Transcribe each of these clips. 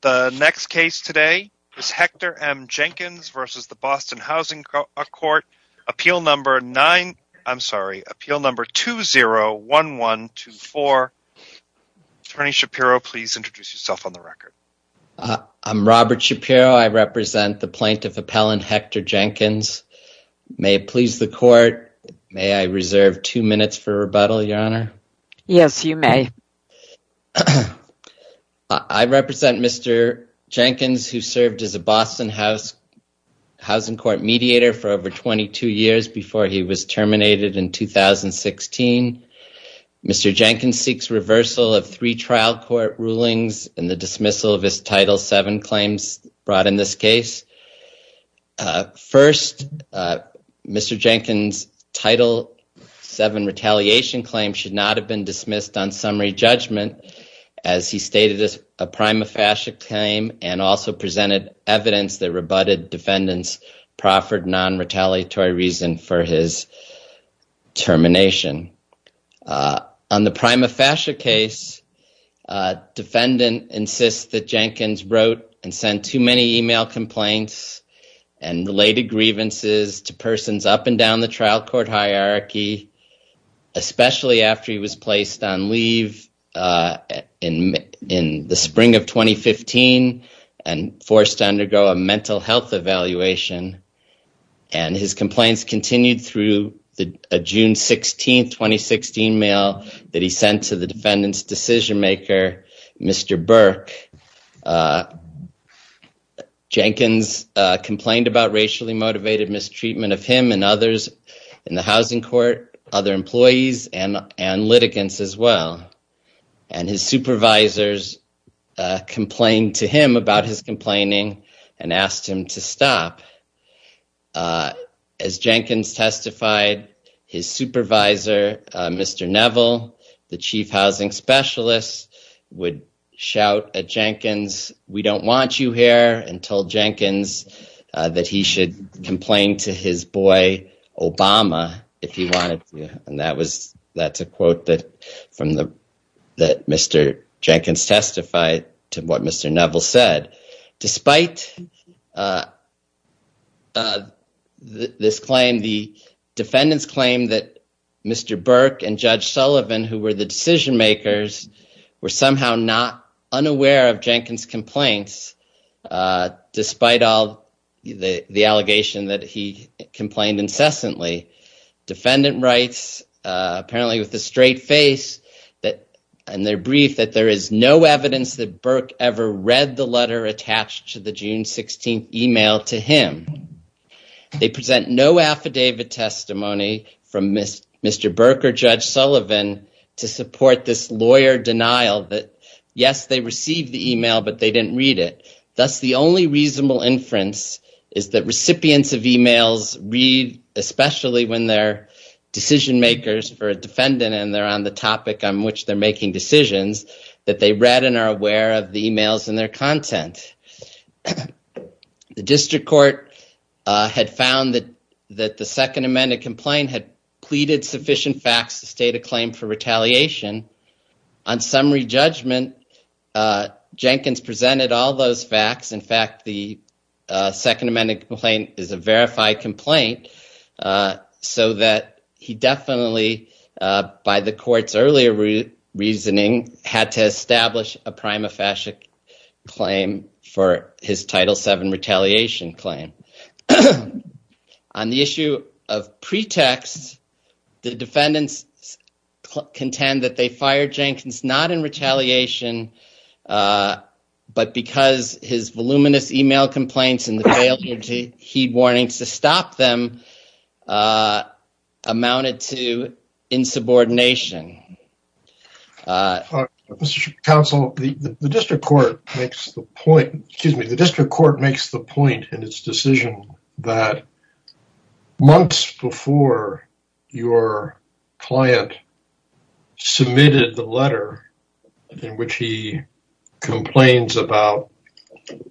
The next case today is Hector M. Jenkins v. the Boston Housing Court, Appeal No. 20-1124. Attorney Shapiro, please introduce yourself on the record. I'm Robert Shapiro. I represent the Plaintiff Appellant Hector Jenkins. May it please the Court, may I reserve two minutes for rebuttal, Your Honor? Yes, you may. I represent Mr. Jenkins, who served as a Boston Housing Court mediator for over 22 years before he was terminated in 2016. Mr. Jenkins seeks reversal of three trial court rulings and the dismissal of his Title VII claims brought in this case. First, Mr. Jenkins' Title VII retaliation claim should not have been dismissed on summary judgment as he stated a prima facie claim and also presented evidence that rebutted defendants' proffered non-retaliatory reason for his termination. On the prima facie case, a defendant insists that Jenkins wrote and sent too many email complaints and related grievances to persons up and down the trial court hierarchy, especially after he was placed on leave in the spring of 2015 and forced to undergo a mental health evaluation. His complaints continued through a June 16, 2016, email that he sent to the defendant's decision-maker, Mr. Burke. Jenkins complained about racially motivated mistreatment of him and others in the housing court, other employees, and litigants as well. His supervisors complained to him about his complaining and asked him to stop. As Jenkins testified, his supervisor, Mr. Neville, the chief housing specialist, would shout at Jenkins, we don't want you here, and told Jenkins that he should complain to his boy, Obama, if he wanted to. Despite this claim, the defendants claim that Mr. Burke and Judge Sullivan, who were the decision-makers, were somehow not unaware of Jenkins' complaints, despite the allegation that he complained incessantly. The defendant writes, apparently with a straight face, in their brief, that there is no evidence that Burke ever read the letter attached to the June 16 email to him. They present no affidavit testimony from Mr. Burke or Judge Sullivan to support this lawyer denial that, yes, they received the email, but they didn't read it. Thus, the only reasonable inference is that recipients of emails read, especially when they're decision-makers for a defendant and they're on the topic on which they're making decisions, that they read and are aware of the emails and their content. The district court had found that the second amended complaint had pleaded sufficient facts to state a claim for retaliation. On summary judgment, Jenkins presented all those facts. In fact, the second amended complaint is a verified complaint, so that he definitely, by the court's earlier reasoning, had to establish a prima facie claim for his Title VII retaliation claim. On the issue of pretext, the defendants contend that they fired Jenkins not in retaliation, but because his voluminous email complaints and the failure to heed warnings to stop them amounted to insubordination. Mr. Counsel, the district court makes the point in its decision that months before your client submitted the letter in which he complains about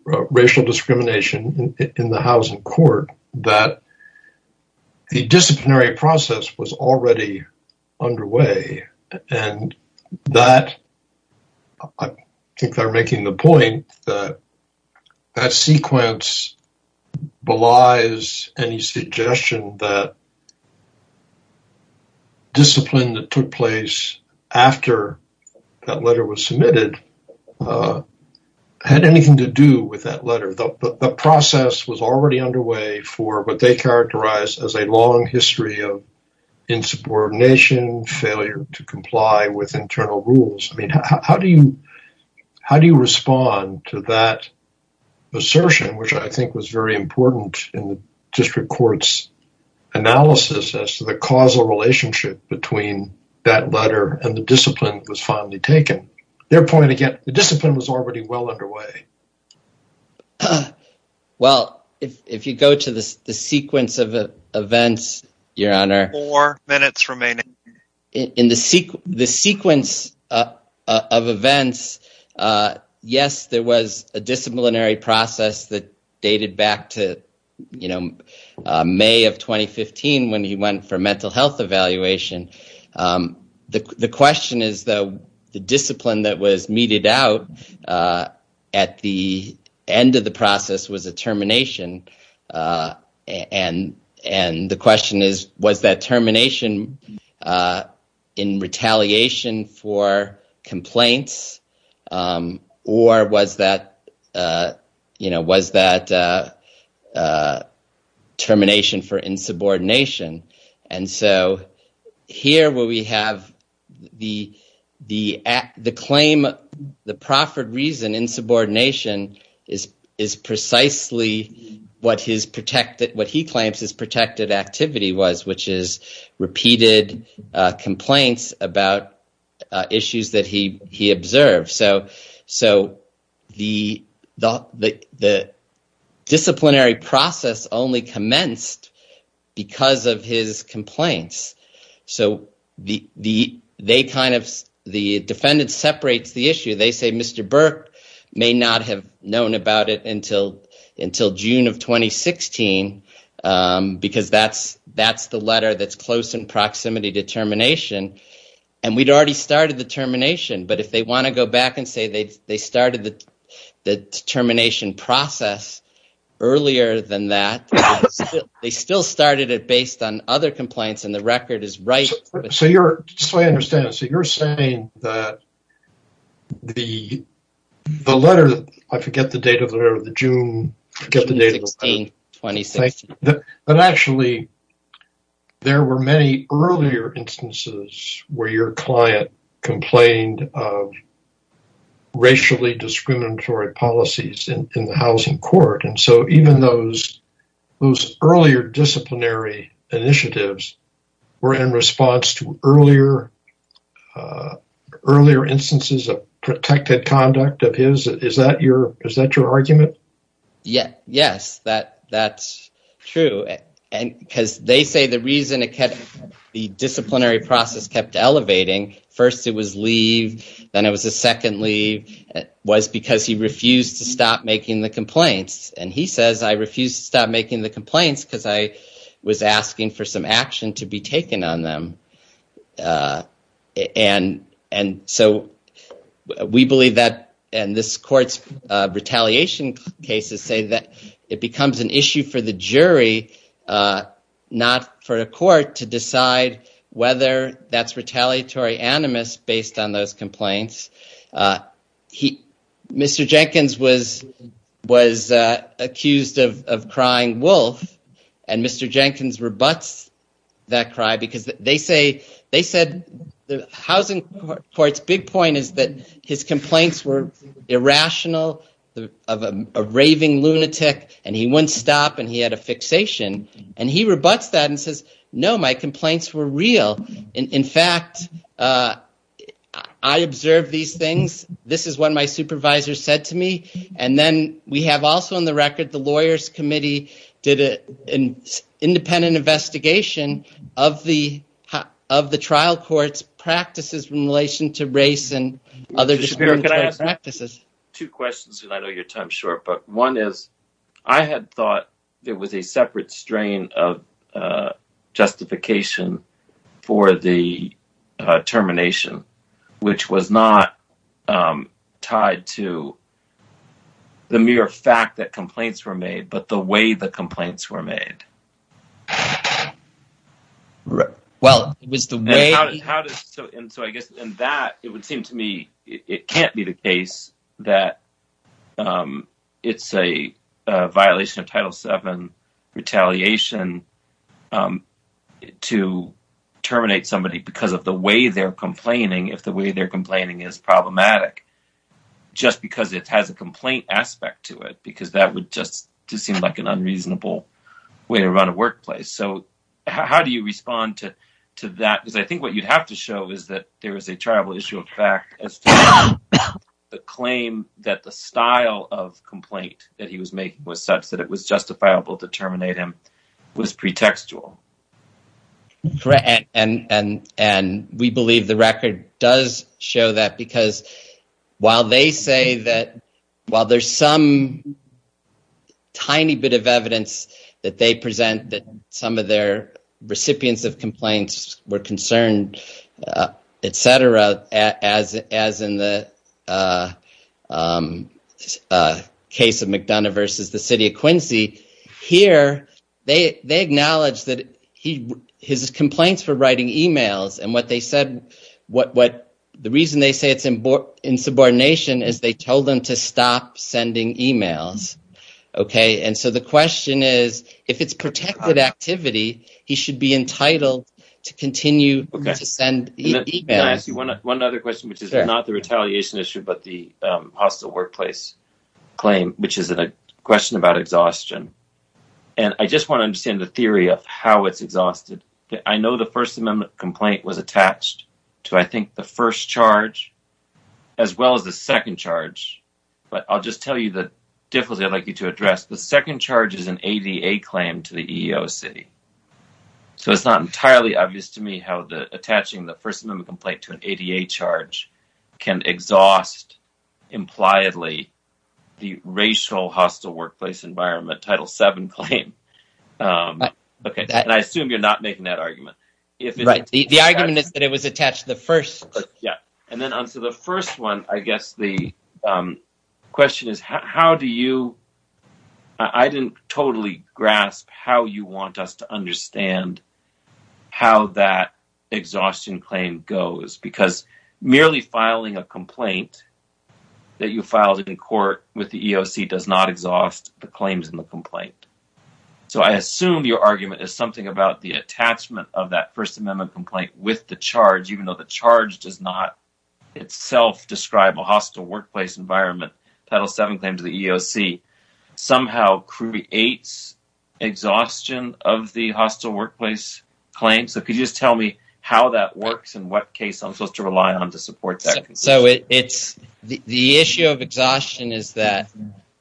racial discrimination in the housing court, that the disciplinary process was already underway. I think they're making the point that that sequence belies any suggestion that discipline that took place after that letter was submitted had anything to do with that letter. The process was already underway for what they characterize as a long history of insubordination, failure to comply with internal rules. How do you respond to that assertion, which I think was very important in the district court's analysis as to the causal relationship between that letter and the discipline that was finally taken? Their point, again, the discipline was already well underway. The discipline that was meted out at the end of the process was a termination, and the question is, was that termination in retaliation for complaints or was that termination for insubordination? Here, the proffered reason insubordination is precisely what he claims his protected activity was, which is repeated complaints about issues that he observed. The disciplinary process only commenced because of his complaints. The defendant separates the issue. They say Mr. Burke may not have known about it until June of 2016 because that's the letter that's close in proximity to termination. We'd already started the termination, but if they want to go back and say they started the termination process earlier than that, they still started it based on other complaints and the record is right. That's the way I understand it. You're saying that the letter, I forget the date of the letter, the June... June 16, 2016. Actually, there were many earlier instances where your client complained of racially discriminatory policies in the housing court, and so even those earlier disciplinary initiatives were in response to earlier instances of protected conduct of his. Is that your argument? Yes, that's true. They say the reason the disciplinary process kept elevating, first it was leave, then it was a second leave, was because he refused to stop making the complaints. He says, I refused to stop making the complaints because I was asking for some action to be taken on them. We believe that in this court's retaliation cases say that it becomes an issue for the jury, not for a court, to decide whether that's retaliatory animus based on those complaints. Mr. Jenkins was accused of crying wolf and Mr. Jenkins rebuts that cry because they said the housing court's big point is that his complaints were irrational of a raving lunatic and he wouldn't stop and he had a fixation and he rebuts that and says, no, my complaints were real. In fact, I observed these things, this is what my supervisor said to me, and then we have also in the record the lawyers committee did an independent investigation of the trial court's practices in relation to race and other discriminatory practices. I have two questions and I know your time's short, but one is I had thought there was a separate strain of justification for the termination, which was not tied to the mere fact that complaints were made, but the way the complaints were made. Well, it was the way. How do you respond to that because I think what you have to show is that there is a tribal issue of fact as to the claim that the style of complaint that he was making was such that it was justifiable to terminate him was pretextual. And we believe the record does show that because while they say that while there's some tiny bit of evidence that they present that some of their recipients of complaints were concerned, etc. As in the case of McDonough versus the city of Quincy, here they acknowledge that his complaints were writing emails and the reason they say it's in subordination is they told them to stop sending emails. And so the question is if it's protected activity, he should be entitled to continue to send emails. One other question, which is not the retaliation issue, but the hostile workplace claim, which is a question about exhaustion. And I just want to understand the theory of how it's exhausted. I know the First Amendment complaint was attached to, I think, the first charge as well as the second charge, but I'll just tell you the difficulty I'd like you to address. The second charge is an ADA claim to the EEOC. So it's not entirely obvious to me how attaching the First Amendment complaint to an ADA charge can exhaust, impliedly, the racial hostile workplace environment Title VII claim. And I assume you're not making that argument. The argument is that it was attached to the first. So the first one, I guess the question is, how do you, I didn't totally grasp how you want us to understand how that exhaustion claim goes. Because merely filing a complaint that you filed in court with the EEOC does not exhaust the claims in the complaint. So I assume your argument is something about the attachment of that First Amendment complaint with the charge, even though the charge does not itself describe a hostile workplace environment. Title VII claim to the EEOC somehow creates exhaustion of the hostile workplace claim. So could you just tell me how that works and what case I'm supposed to rely on to support that? The issue of exhaustion is that,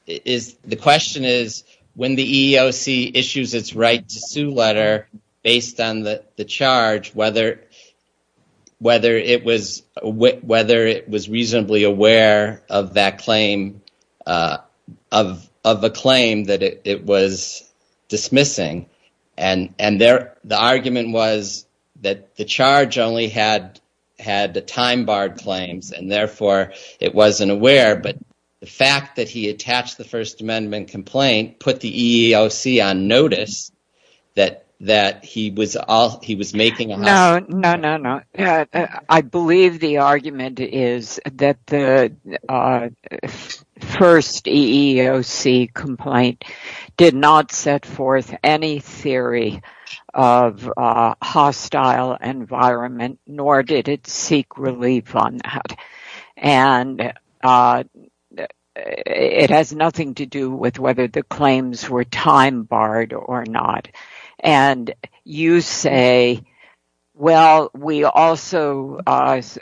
the question is, when the EEOC issues its right to sue letter based on the charge, whether it was reasonably aware of that claim, of a claim that it was dismissing. And the argument was that the charge only had the time barred claims and therefore it wasn't aware. But the fact that he attached the First Amendment complaint put the EEOC on notice that he was making a hostile. I believe the argument is that the first EEOC complaint did not set forth any theory of hostile environment, nor did it seek relief on that. And it has nothing to do with whether the claims were time barred or not. And you say, well, we also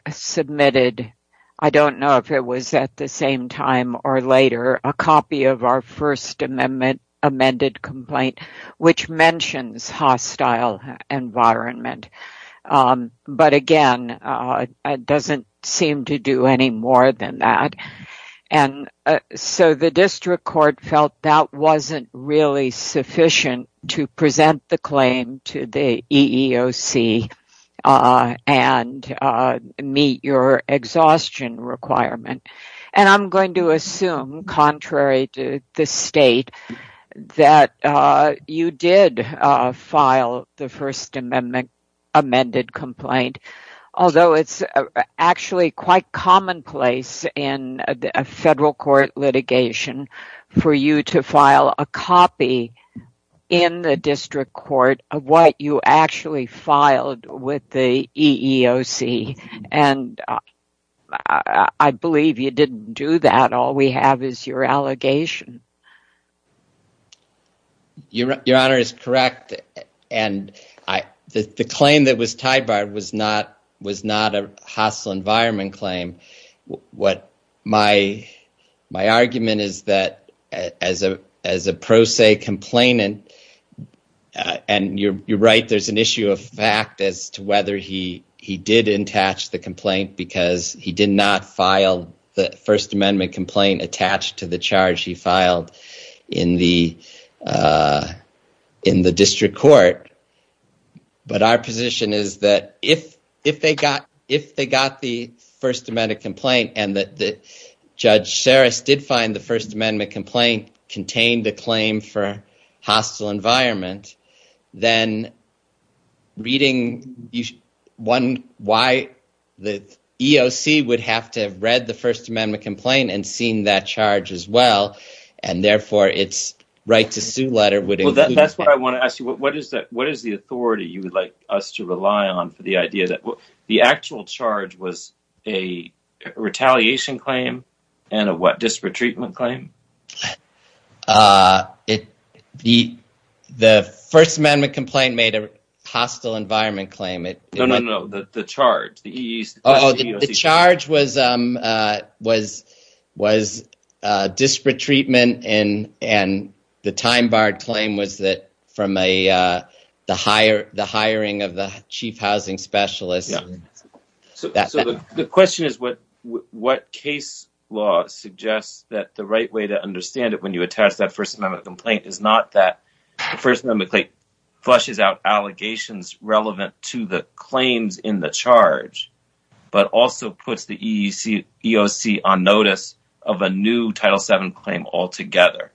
submitted, I don't know if it was at the same time or later, a copy of our First Amendment amended complaint, which mentions hostile environment. But again, it doesn't seem to do any more than that. And so the district court felt that wasn't really sufficient to present the claim to the EEOC and meet your exhaustion requirement. And I'm going to assume, contrary to the state, that you did file the First Amendment amended complaint. Although it's actually quite commonplace in a federal court litigation for you to file a copy in the district court of what you actually filed with the EEOC. And I believe you didn't do that. All we have is your allegation. Your Honor is correct. And the claim that was time barred was not a hostile environment claim. My argument is that as a pro se complainant, and you're right, there's an issue of fact as to whether he did attach the complaint because he did not file the First Amendment complaint attached to the charge he filed in the district court. But our position is that if they got the First Amendment complaint and that Judge Sarris did find the First Amendment complaint contained the claim for hostile environment, then reading why the EEOC would have to have read the First Amendment complaint and seen that charge as well. And therefore, it's right to sue letter. Well, that's what I want to ask you. What is that? What is the authority you would like us to rely on for the idea that the actual charge was a retaliation claim and a disparate treatment claim? The First Amendment complaint made a hostile environment claim. The charge was disparate treatment and the time barred claim was that from the hiring of the chief housing specialist. So the question is what case law suggests that the right way to understand it when you attach that First Amendment complaint is not that First Amendment flushes out allegations relevant to the claims in the charge, but also puts the EEOC on notice of a new Title 7 claim altogether.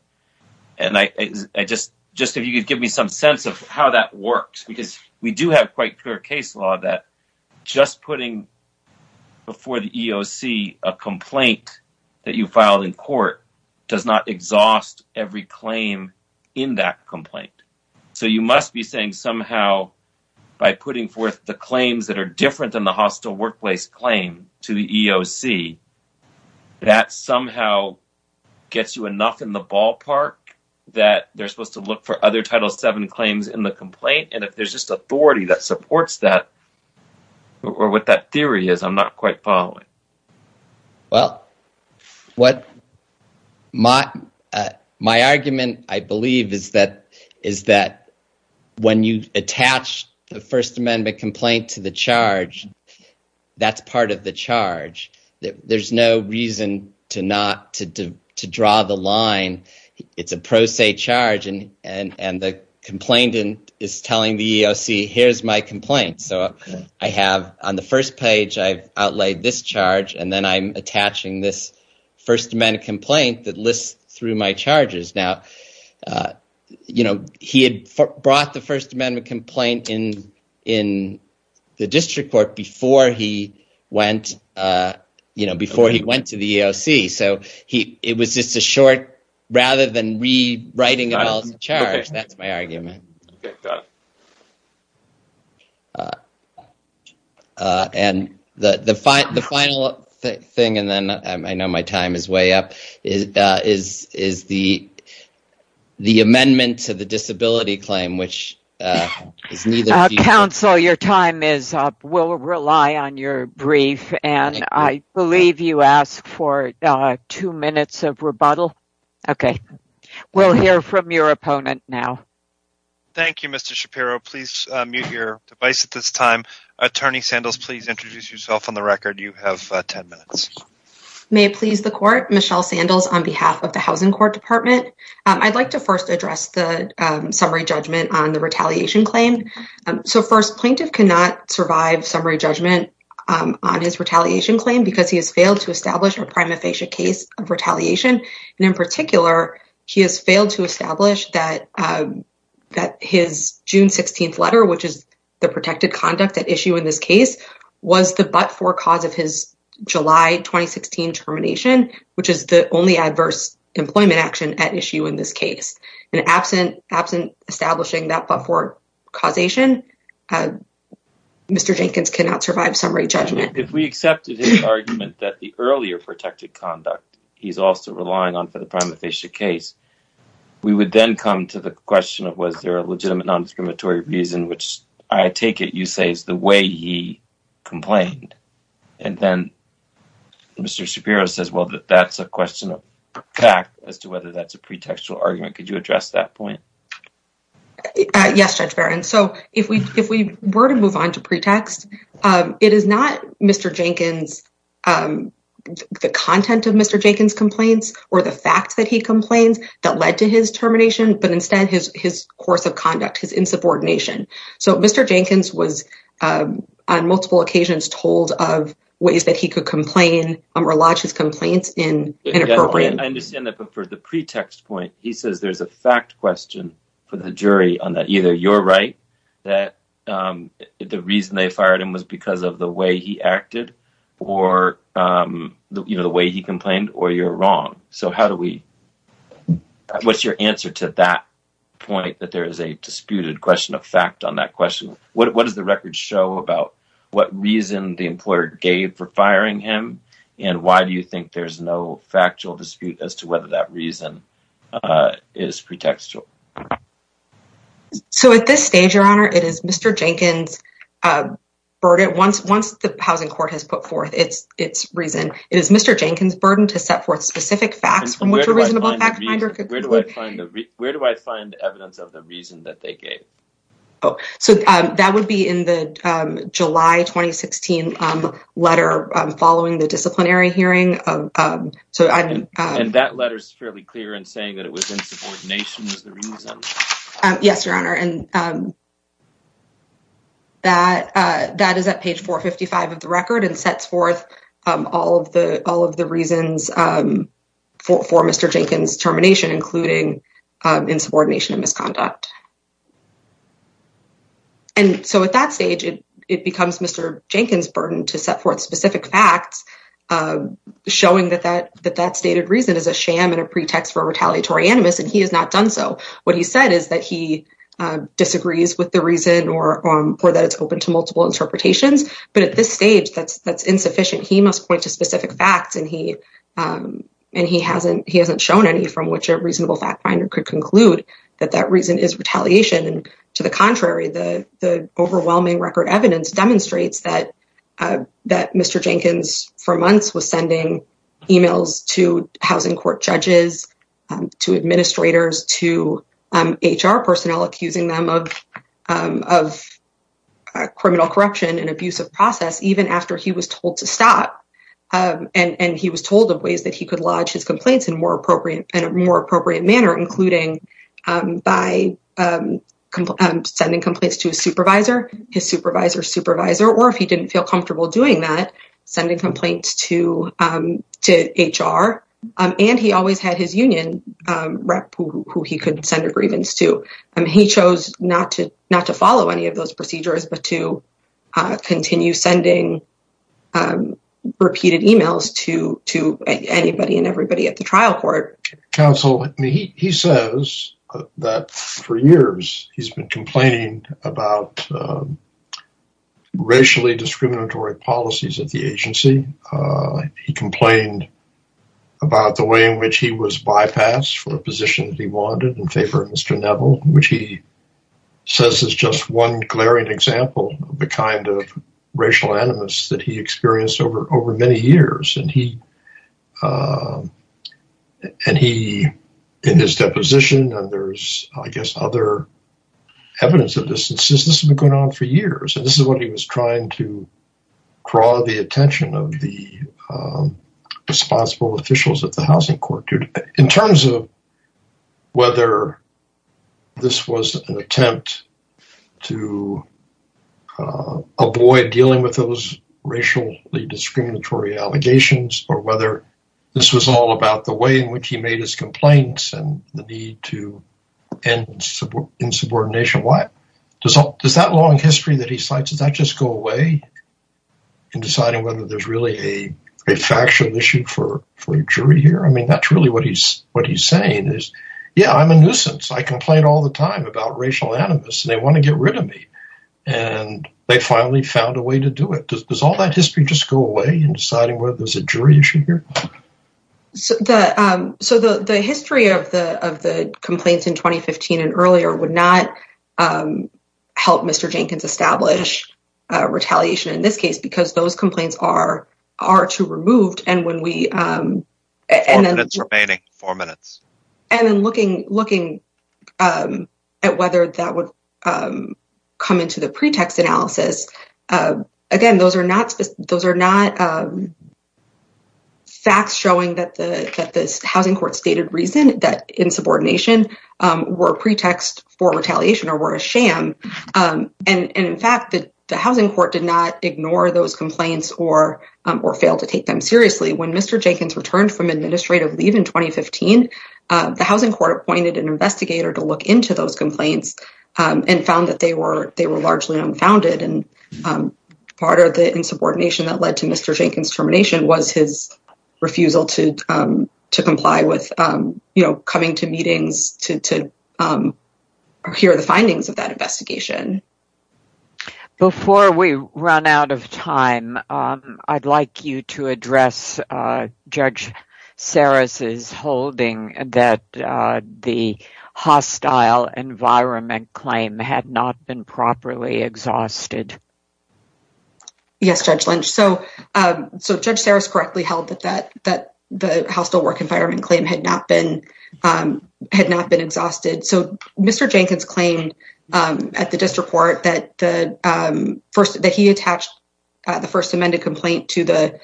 And I just just if you could give me some sense of how that works, because we do have quite clear case law that just putting before the EEOC a complaint that you filed in court does not exhaust every claim in that complaint. So you must be saying somehow by putting forth the claims that are different than the hostile workplace claim to the EEOC, that somehow gets you enough in the ballpark that they're supposed to look for other Title 7 claims in the complaint. And if there's just authority that supports that or what that theory is, I'm not quite following. Well, what my my argument, I believe, is that is that when you attach the First Amendment complaint to the charge, that's part of the charge that there's no reason to not to to draw the line. It's a pro se charge and the complainant is telling the EEOC, here's my complaint. So I have on the first page, I've outlaid this charge and then I'm attaching this First Amendment complaint that lists through my charges. Now, you know, he had brought the First Amendment complaint in in the district court before he went, you know, before he went to the EEOC. So he it was just a short rather than rewriting the charge. That's my argument. And the the the final thing and then I know my time is way up is is is the the amendment to the disability claim, which is neither. Your time is up. We'll rely on your brief, and I believe you asked for two minutes of rebuttal. OK, we'll hear from your opponent now. Thank you, Mr. Shapiro. Please mute your device at this time. Attorney Sandals, please introduce yourself on the record. You have 10 minutes. May it please the court. Michelle Sandals on behalf of the Housing Court Department. I'd like to first address the summary judgment on the retaliation claim. So first, plaintiff cannot survive summary judgment on his retaliation claim because he has failed to establish a prima facie case of retaliation. And in particular, he has failed to establish that that his June 16th letter, which is the protected conduct at issue in this case, was the but-for cause of his July 2016 termination, which is the only adverse employment action at issue in this case. And absent absent establishing that but-for causation, Mr. Jenkins cannot survive summary judgment. If we accepted his argument that the earlier protected conduct he's also relying on for the prima facie case, we would then come to the question of was there a legitimate non-discriminatory reason, which I take it you say is the way he complained. And then Mr. Shapiro says, well, that that's a question of fact as to whether that's a pretextual argument. Could you address that point? Yes, Judge Barron. So if we if we were to move on to pretext, it is not Mr. Jenkins, the content of Mr. Jenkins complaints or the fact that he complains that led to his termination, but instead his his course of conduct, his insubordination. So Mr. Jenkins was on multiple occasions told of ways that he could complain or lodge his complaints in. I understand that. But for the pretext point, he says there's a fact question for the jury on that. Either you're right that the reason they fired him was because of the way he acted or the way he complained or you're wrong. So how do we what's your answer to that point that there is a disputed question of fact on that question? What does the record show about what reason the employer gave for firing him? And why do you think there's no factual dispute as to whether that reason is pretextual? So at this stage, your honor, it is Mr. Jenkins burden. Once once the housing court has put forth its its reason, it is Mr. Jenkins burden to set forth specific facts from which a reasonable fact finder. Where do I find the where do I find evidence of the reason that they gave? Oh, so that would be in the July 2016 letter following the disciplinary hearing. So I mean, and that letter is fairly clear in saying that it was insubordination is the reason. Yes, your honor. And that that is at page four fifty five of the record and sets forth all of the all of the reasons for Mr. Jenkins termination, including insubordination and misconduct. And so at that stage, it becomes Mr. Jenkins burden to set forth specific facts showing that that that that stated reason is a sham and a pretext for retaliatory animus. And he has not done so. What he said is that he disagrees with the reason or that it's open to multiple interpretations. But at this stage, that's that's insufficient. He must point to specific facts and he and he hasn't he hasn't shown any from which a reasonable fact finder could conclude that that reason is retaliation. And to the contrary, the overwhelming record evidence demonstrates that that Mr. Jenkins for months was sending emails to housing court judges, to administrators, to HR personnel, accusing them of of criminal corruption and abuse of process even after he was told to stop. And he was told of ways that he could lodge his complaints in more appropriate and a more appropriate manner, including by sending complaints to a supervisor, his supervisor, supervisor, or if he didn't feel comfortable doing that, sending complaints to to HR. And he always had his union rep who he could send a grievance to. And he chose not to not to follow any of those procedures, but to continue sending repeated emails to to anybody and everybody at the trial court. Counsel, he says that for years he's been complaining about racially discriminatory policies at the agency. He complained about the way in which he was bypassed for a position that he wanted in favor of Mr. Neville, which he says is just one glaring example of the kind of racial animus that he experienced over over many years. And he and he in his deposition. And there's, I guess, other evidence of this. This has been going on for years. And this is what he was trying to draw the attention of the responsible officials at the housing court. In terms of whether this was an attempt to avoid dealing with those racially discriminatory allegations or whether this was all about the way in which he made his complaints and the need to end insubordination. Does that long history that he cites, does that just go away in deciding whether there's really a factual issue for a jury here? I mean, that's really what he's what he's saying is, yeah, I'm a nuisance. I complain all the time about racial animus and they want to get rid of me. And they finally found a way to do it. Does all that history just go away in deciding whether there's a jury issue here? So the so the history of the of the complaints in 2015 and earlier would not help Mr. Jenkins establish retaliation in this case, because those complaints are are to removed. And when we and then it's remaining four minutes and then looking looking at whether that would come into the pretext analysis again, those are not those are not facts showing that the housing court stated reason that insubordination were pretext for retaliation or were a sham. And in fact, the housing court did not ignore those complaints or or fail to take them seriously. When Mr. Jenkins returned from administrative leave in 2015, the housing court appointed an investigator to look into those complaints and found that they were they were largely unfounded. And part of the insubordination that led to Mr. Jenkins termination was his refusal to to comply with, you know, coming to meetings to hear the findings of that investigation. Before we run out of time, I'd like you to address Judge Sarris's holding that the hostile environment claim had not been properly exhausted. Yes, Judge Lynch. So so Judge Sarris correctly held that that that the hostile work environment claim had not been had not been exhausted. So Mr. Jenkins claimed at the district court that the first that he attached the first amended complaint to the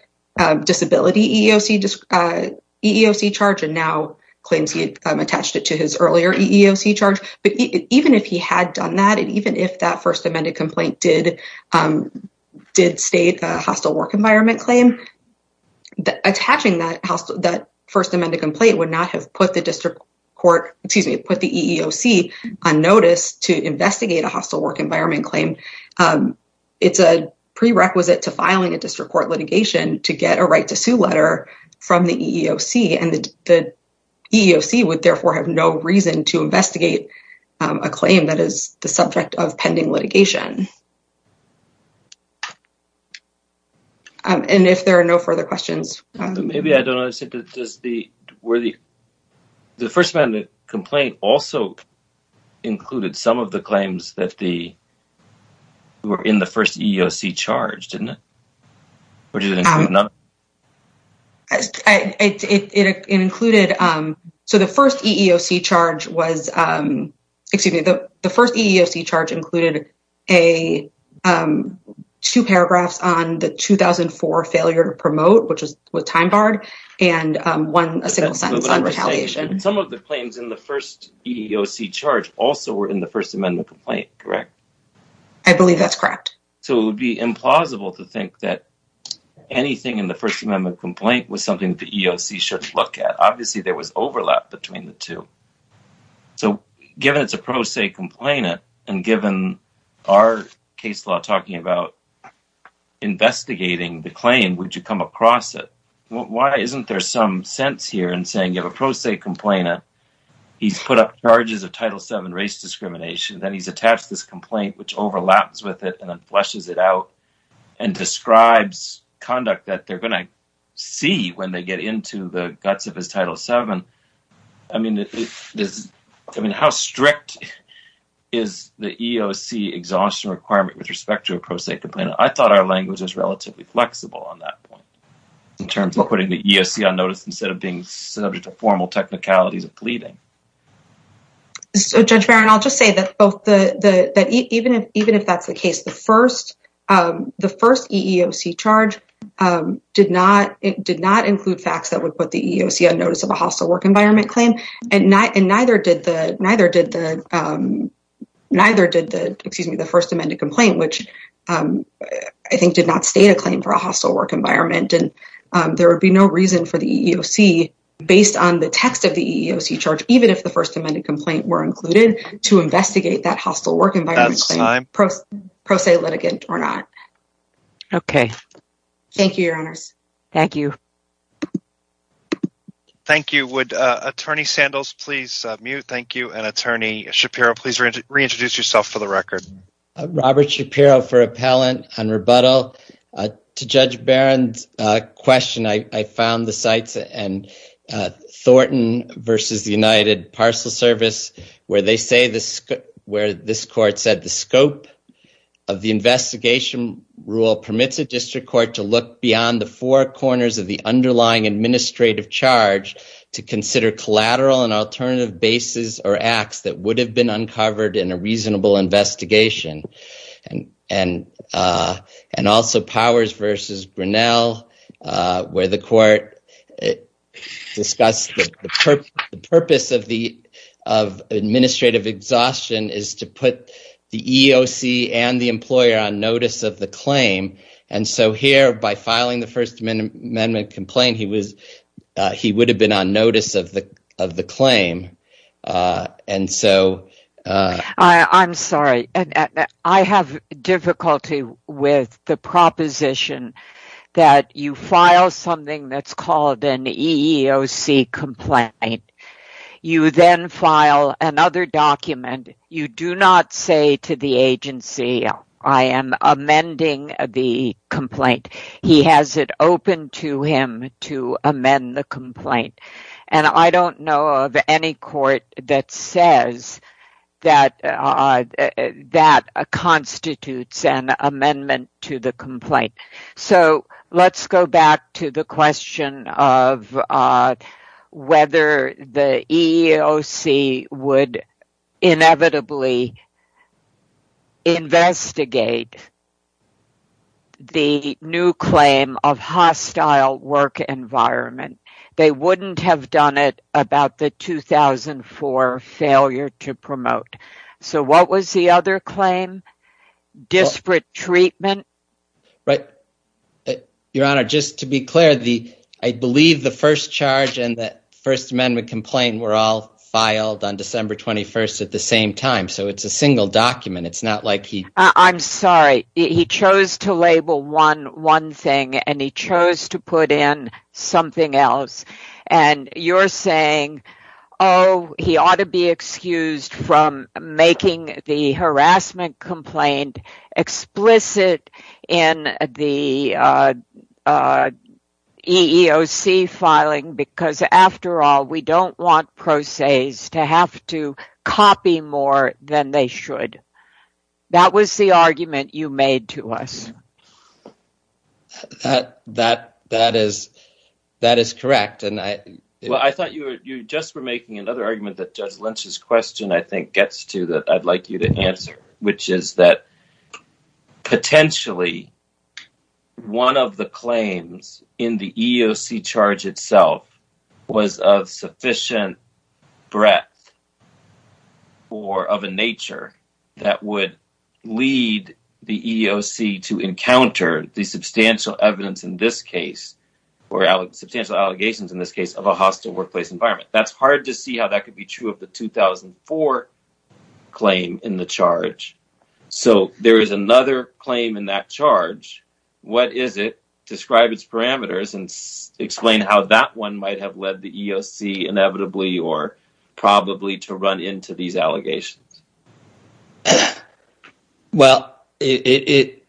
disability EEOC charge and now claims he attached it to his earlier EEOC charge. But even if he had done that and even if that first amended complaint did did state a hostile work environment claim attaching that that first amended complaint would not have put the district court put the EEOC on notice to investigate a hostile work environment claim. It's a prerequisite to filing a district court litigation to get a right to sue letter from the EEOC and the EEOC would therefore have no reason to investigate a claim that is the subject of pending litigation. And if there are no further questions, maybe I don't know, I said that just the worthy. The first amendment complaint also included some of the claims that the were in the first EEOC charge, didn't it? It included so the first EEOC charge was, excuse me, the first EEOC charge included a two paragraphs on the 2004 failure to promote, which was time barred and won a single sentence on retaliation. Some of the claims in the first EEOC charge also were in the first amendment complaint, correct? I believe that's correct. So it would be implausible to think that anything in the first amendment complaint was something that the EEOC should look at. Obviously, there was overlap between the two. So given it's a pro se complainant and given our case law talking about investigating the claim, would you come across it? Why isn't there some sense here in saying you have a pro se complainant, he's put up charges of Title VII race discrimination, then he's attached this complaint, which overlaps with it and then flushes it out and describes conduct that they're going to see when they get into the guts of his Title VII. I mean, how strict is the EEOC exhaustion requirement with respect to a pro se complainant? I thought our language was relatively flexible on that point. In terms of putting the EEOC on notice instead of being subject to formal technicalities of pleading. So Judge Barron, I'll just say that even if that's the case, the first EEOC charge did not include facts that would put the EEOC on notice of a hostile work environment claim. And neither did the first amended complaint, which I think did not state a claim for a hostile work environment. And there would be no reason for the EEOC, based on the text of the EEOC charge, even if the first amended complaint were included, to investigate that hostile work environment claim, pro se litigant or not. Thank you, Your Honors. Thank you. Thank you. Would Attorney Sandals please mute? Thank you. And Attorney Shapiro, please reintroduce yourself for the record. Robert Shapiro for Appellant on rebuttal. To Judge Barron's question, I found the sites in Thornton v. United Parcel Service, where this court said the scope of the investigation rule permits a district court to look beyond the four corners of the underlying administrative charge to consider collateral and alternative bases or acts that would have been uncovered in a reasonable investigation. And also Powers v. Grinnell, where the court discussed the purpose of administrative exhaustion is to put the EEOC and the employer on notice of the claim. And so here, by filing the first amendment complaint, he would have been on notice of the claim. I'm sorry. I have difficulty with the proposition that you file something that's called an EEOC complaint. You then file another document. You do not say to the agency, I am amending the complaint. He has it open to him to amend the complaint. And I don't know of any court that says that constitutes an amendment to the complaint. So let's go back to the question of whether the EEOC would inevitably investigate the new claim of hostile work environment. They wouldn't have done it without the 2004 failure to promote. So what was the other claim? Disparate treatment? Your Honor, just to be clear, I believe the first charge and the first amendment complaint were all filed on December 21st at the same time. So it's a single document. I'm sorry. He chose to label one thing and he chose to put in something else. You're saying, oh, he ought to be excused from making the harassment complaint explicit in the EEOC filing because, after all, we don't want pro ses to have to copy more than they should. That was the argument you made to us. That that that is that is correct. And I thought you just were making another argument that Judge Lynch's question I think gets to that. Which is that potentially one of the claims in the EEOC charge itself was of sufficient breadth or of a nature that would lead the EEOC to encounter the substantial evidence in this case or substantial allegations in this case of a hostile workplace environment. That's hard to see how that could be true of the 2004 claim in the charge. So there is another claim in that charge. What is it? Describe its parameters and explain how that one might have led the EEOC inevitably or probably to run into these allegations. Well, it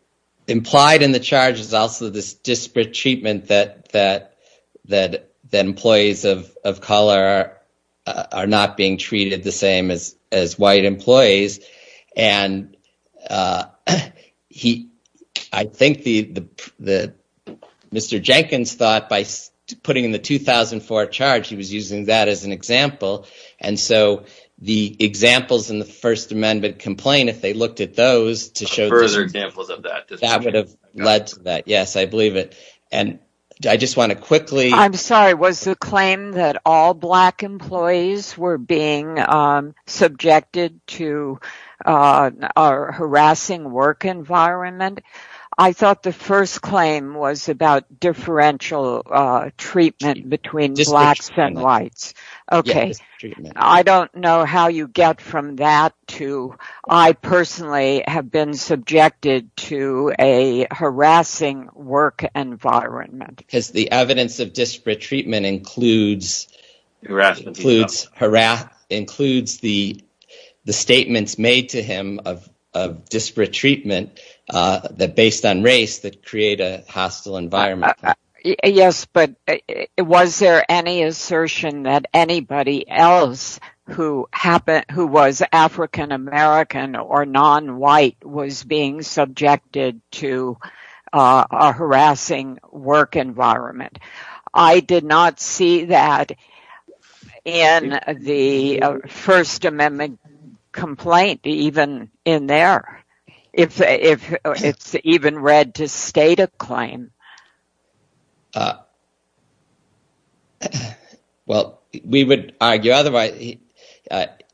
implied in the charge is also this disparate treatment that that that that employees of color are not being treated the same as as white employees. And he I think the the Mr. Jenkins thought by putting in the 2004 charge, he was using that as an example. And so the examples in the First Amendment complaint, if they looked at those to show further examples of that, that would have led to that. Yes, I believe it. And I just want to quickly. I'm sorry, was the claim that all black employees were being subjected to a harassing work environment? I thought the first claim was about differential treatment between blacks and whites. OK, I don't know how you get from that to I personally have been subjected to a harassing work environment. Because the evidence of disparate treatment includes harassment, includes harass, includes the the statements made to him of disparate treatment that based on race that create a hostile environment. Yes. But was there any assertion that anybody else who happened who was African-American or non-white was being subjected to a harassing work environment? I did not see that in the First Amendment complaint, even in there, if it's even read to state a claim. Well, we would argue otherwise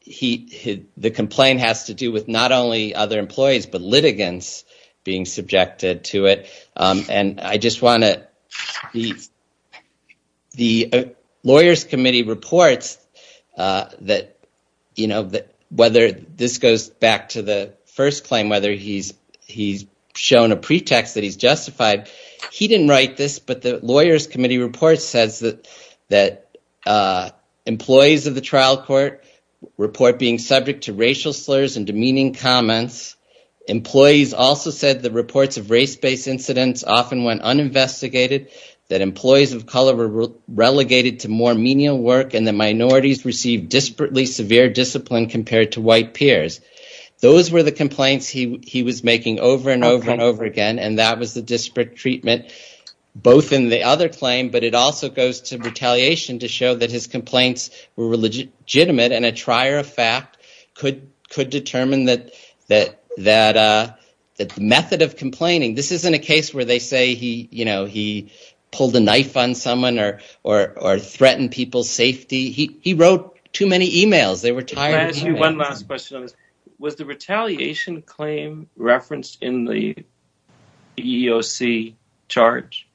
he the complaint has to do with not only other employees, but litigants being subjected to it. And I just want to the lawyers committee reports that, you know, whether this goes back to the first claim, whether he's he's shown a pretext that he's justified. He didn't write this, but the lawyers committee report says that that employees of the trial court report being subject to racial slurs and demeaning comments. Employees also said the reports of race based incidents often went uninvestigated, that employees of color were relegated to more menial work and the minorities received disparately severe discipline compared to white peers. Those were the complaints he was making over and over and over again, and that was the disparate treatment both in the other claim, but it also goes to retaliation to show that his complaints were legitimate and a trier of fact could determine the method of complaining. This isn't a case where they say he pulled a knife on someone or threatened people's safety. He wrote too many emails. Was the retaliation claim referenced in the EEOC charge?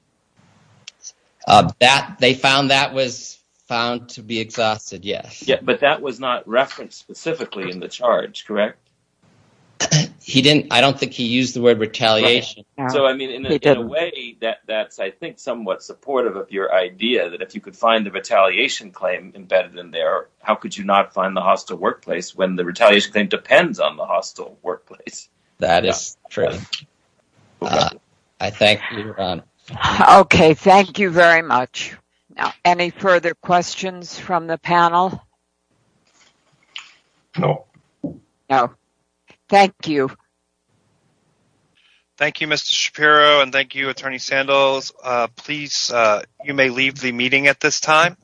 They found that was found to be exhausted. Yes. But that was not referenced specifically in the charge, correct? He didn't. I don't think he used the word retaliation. So, I mean, in a way that that's, I think, somewhat supportive of your idea that if you could find the retaliation claim embedded in there, how could you not find the hostile workplace when the retaliation claim depends on the hostile workplace? That is true. I thank you, Ron. OK, thank you very much. Any further questions from the panel? No, no. Thank you. Thank you, Mr. Shapiro, and thank you, Attorney Sandals. Please, you may leave the meeting at this time.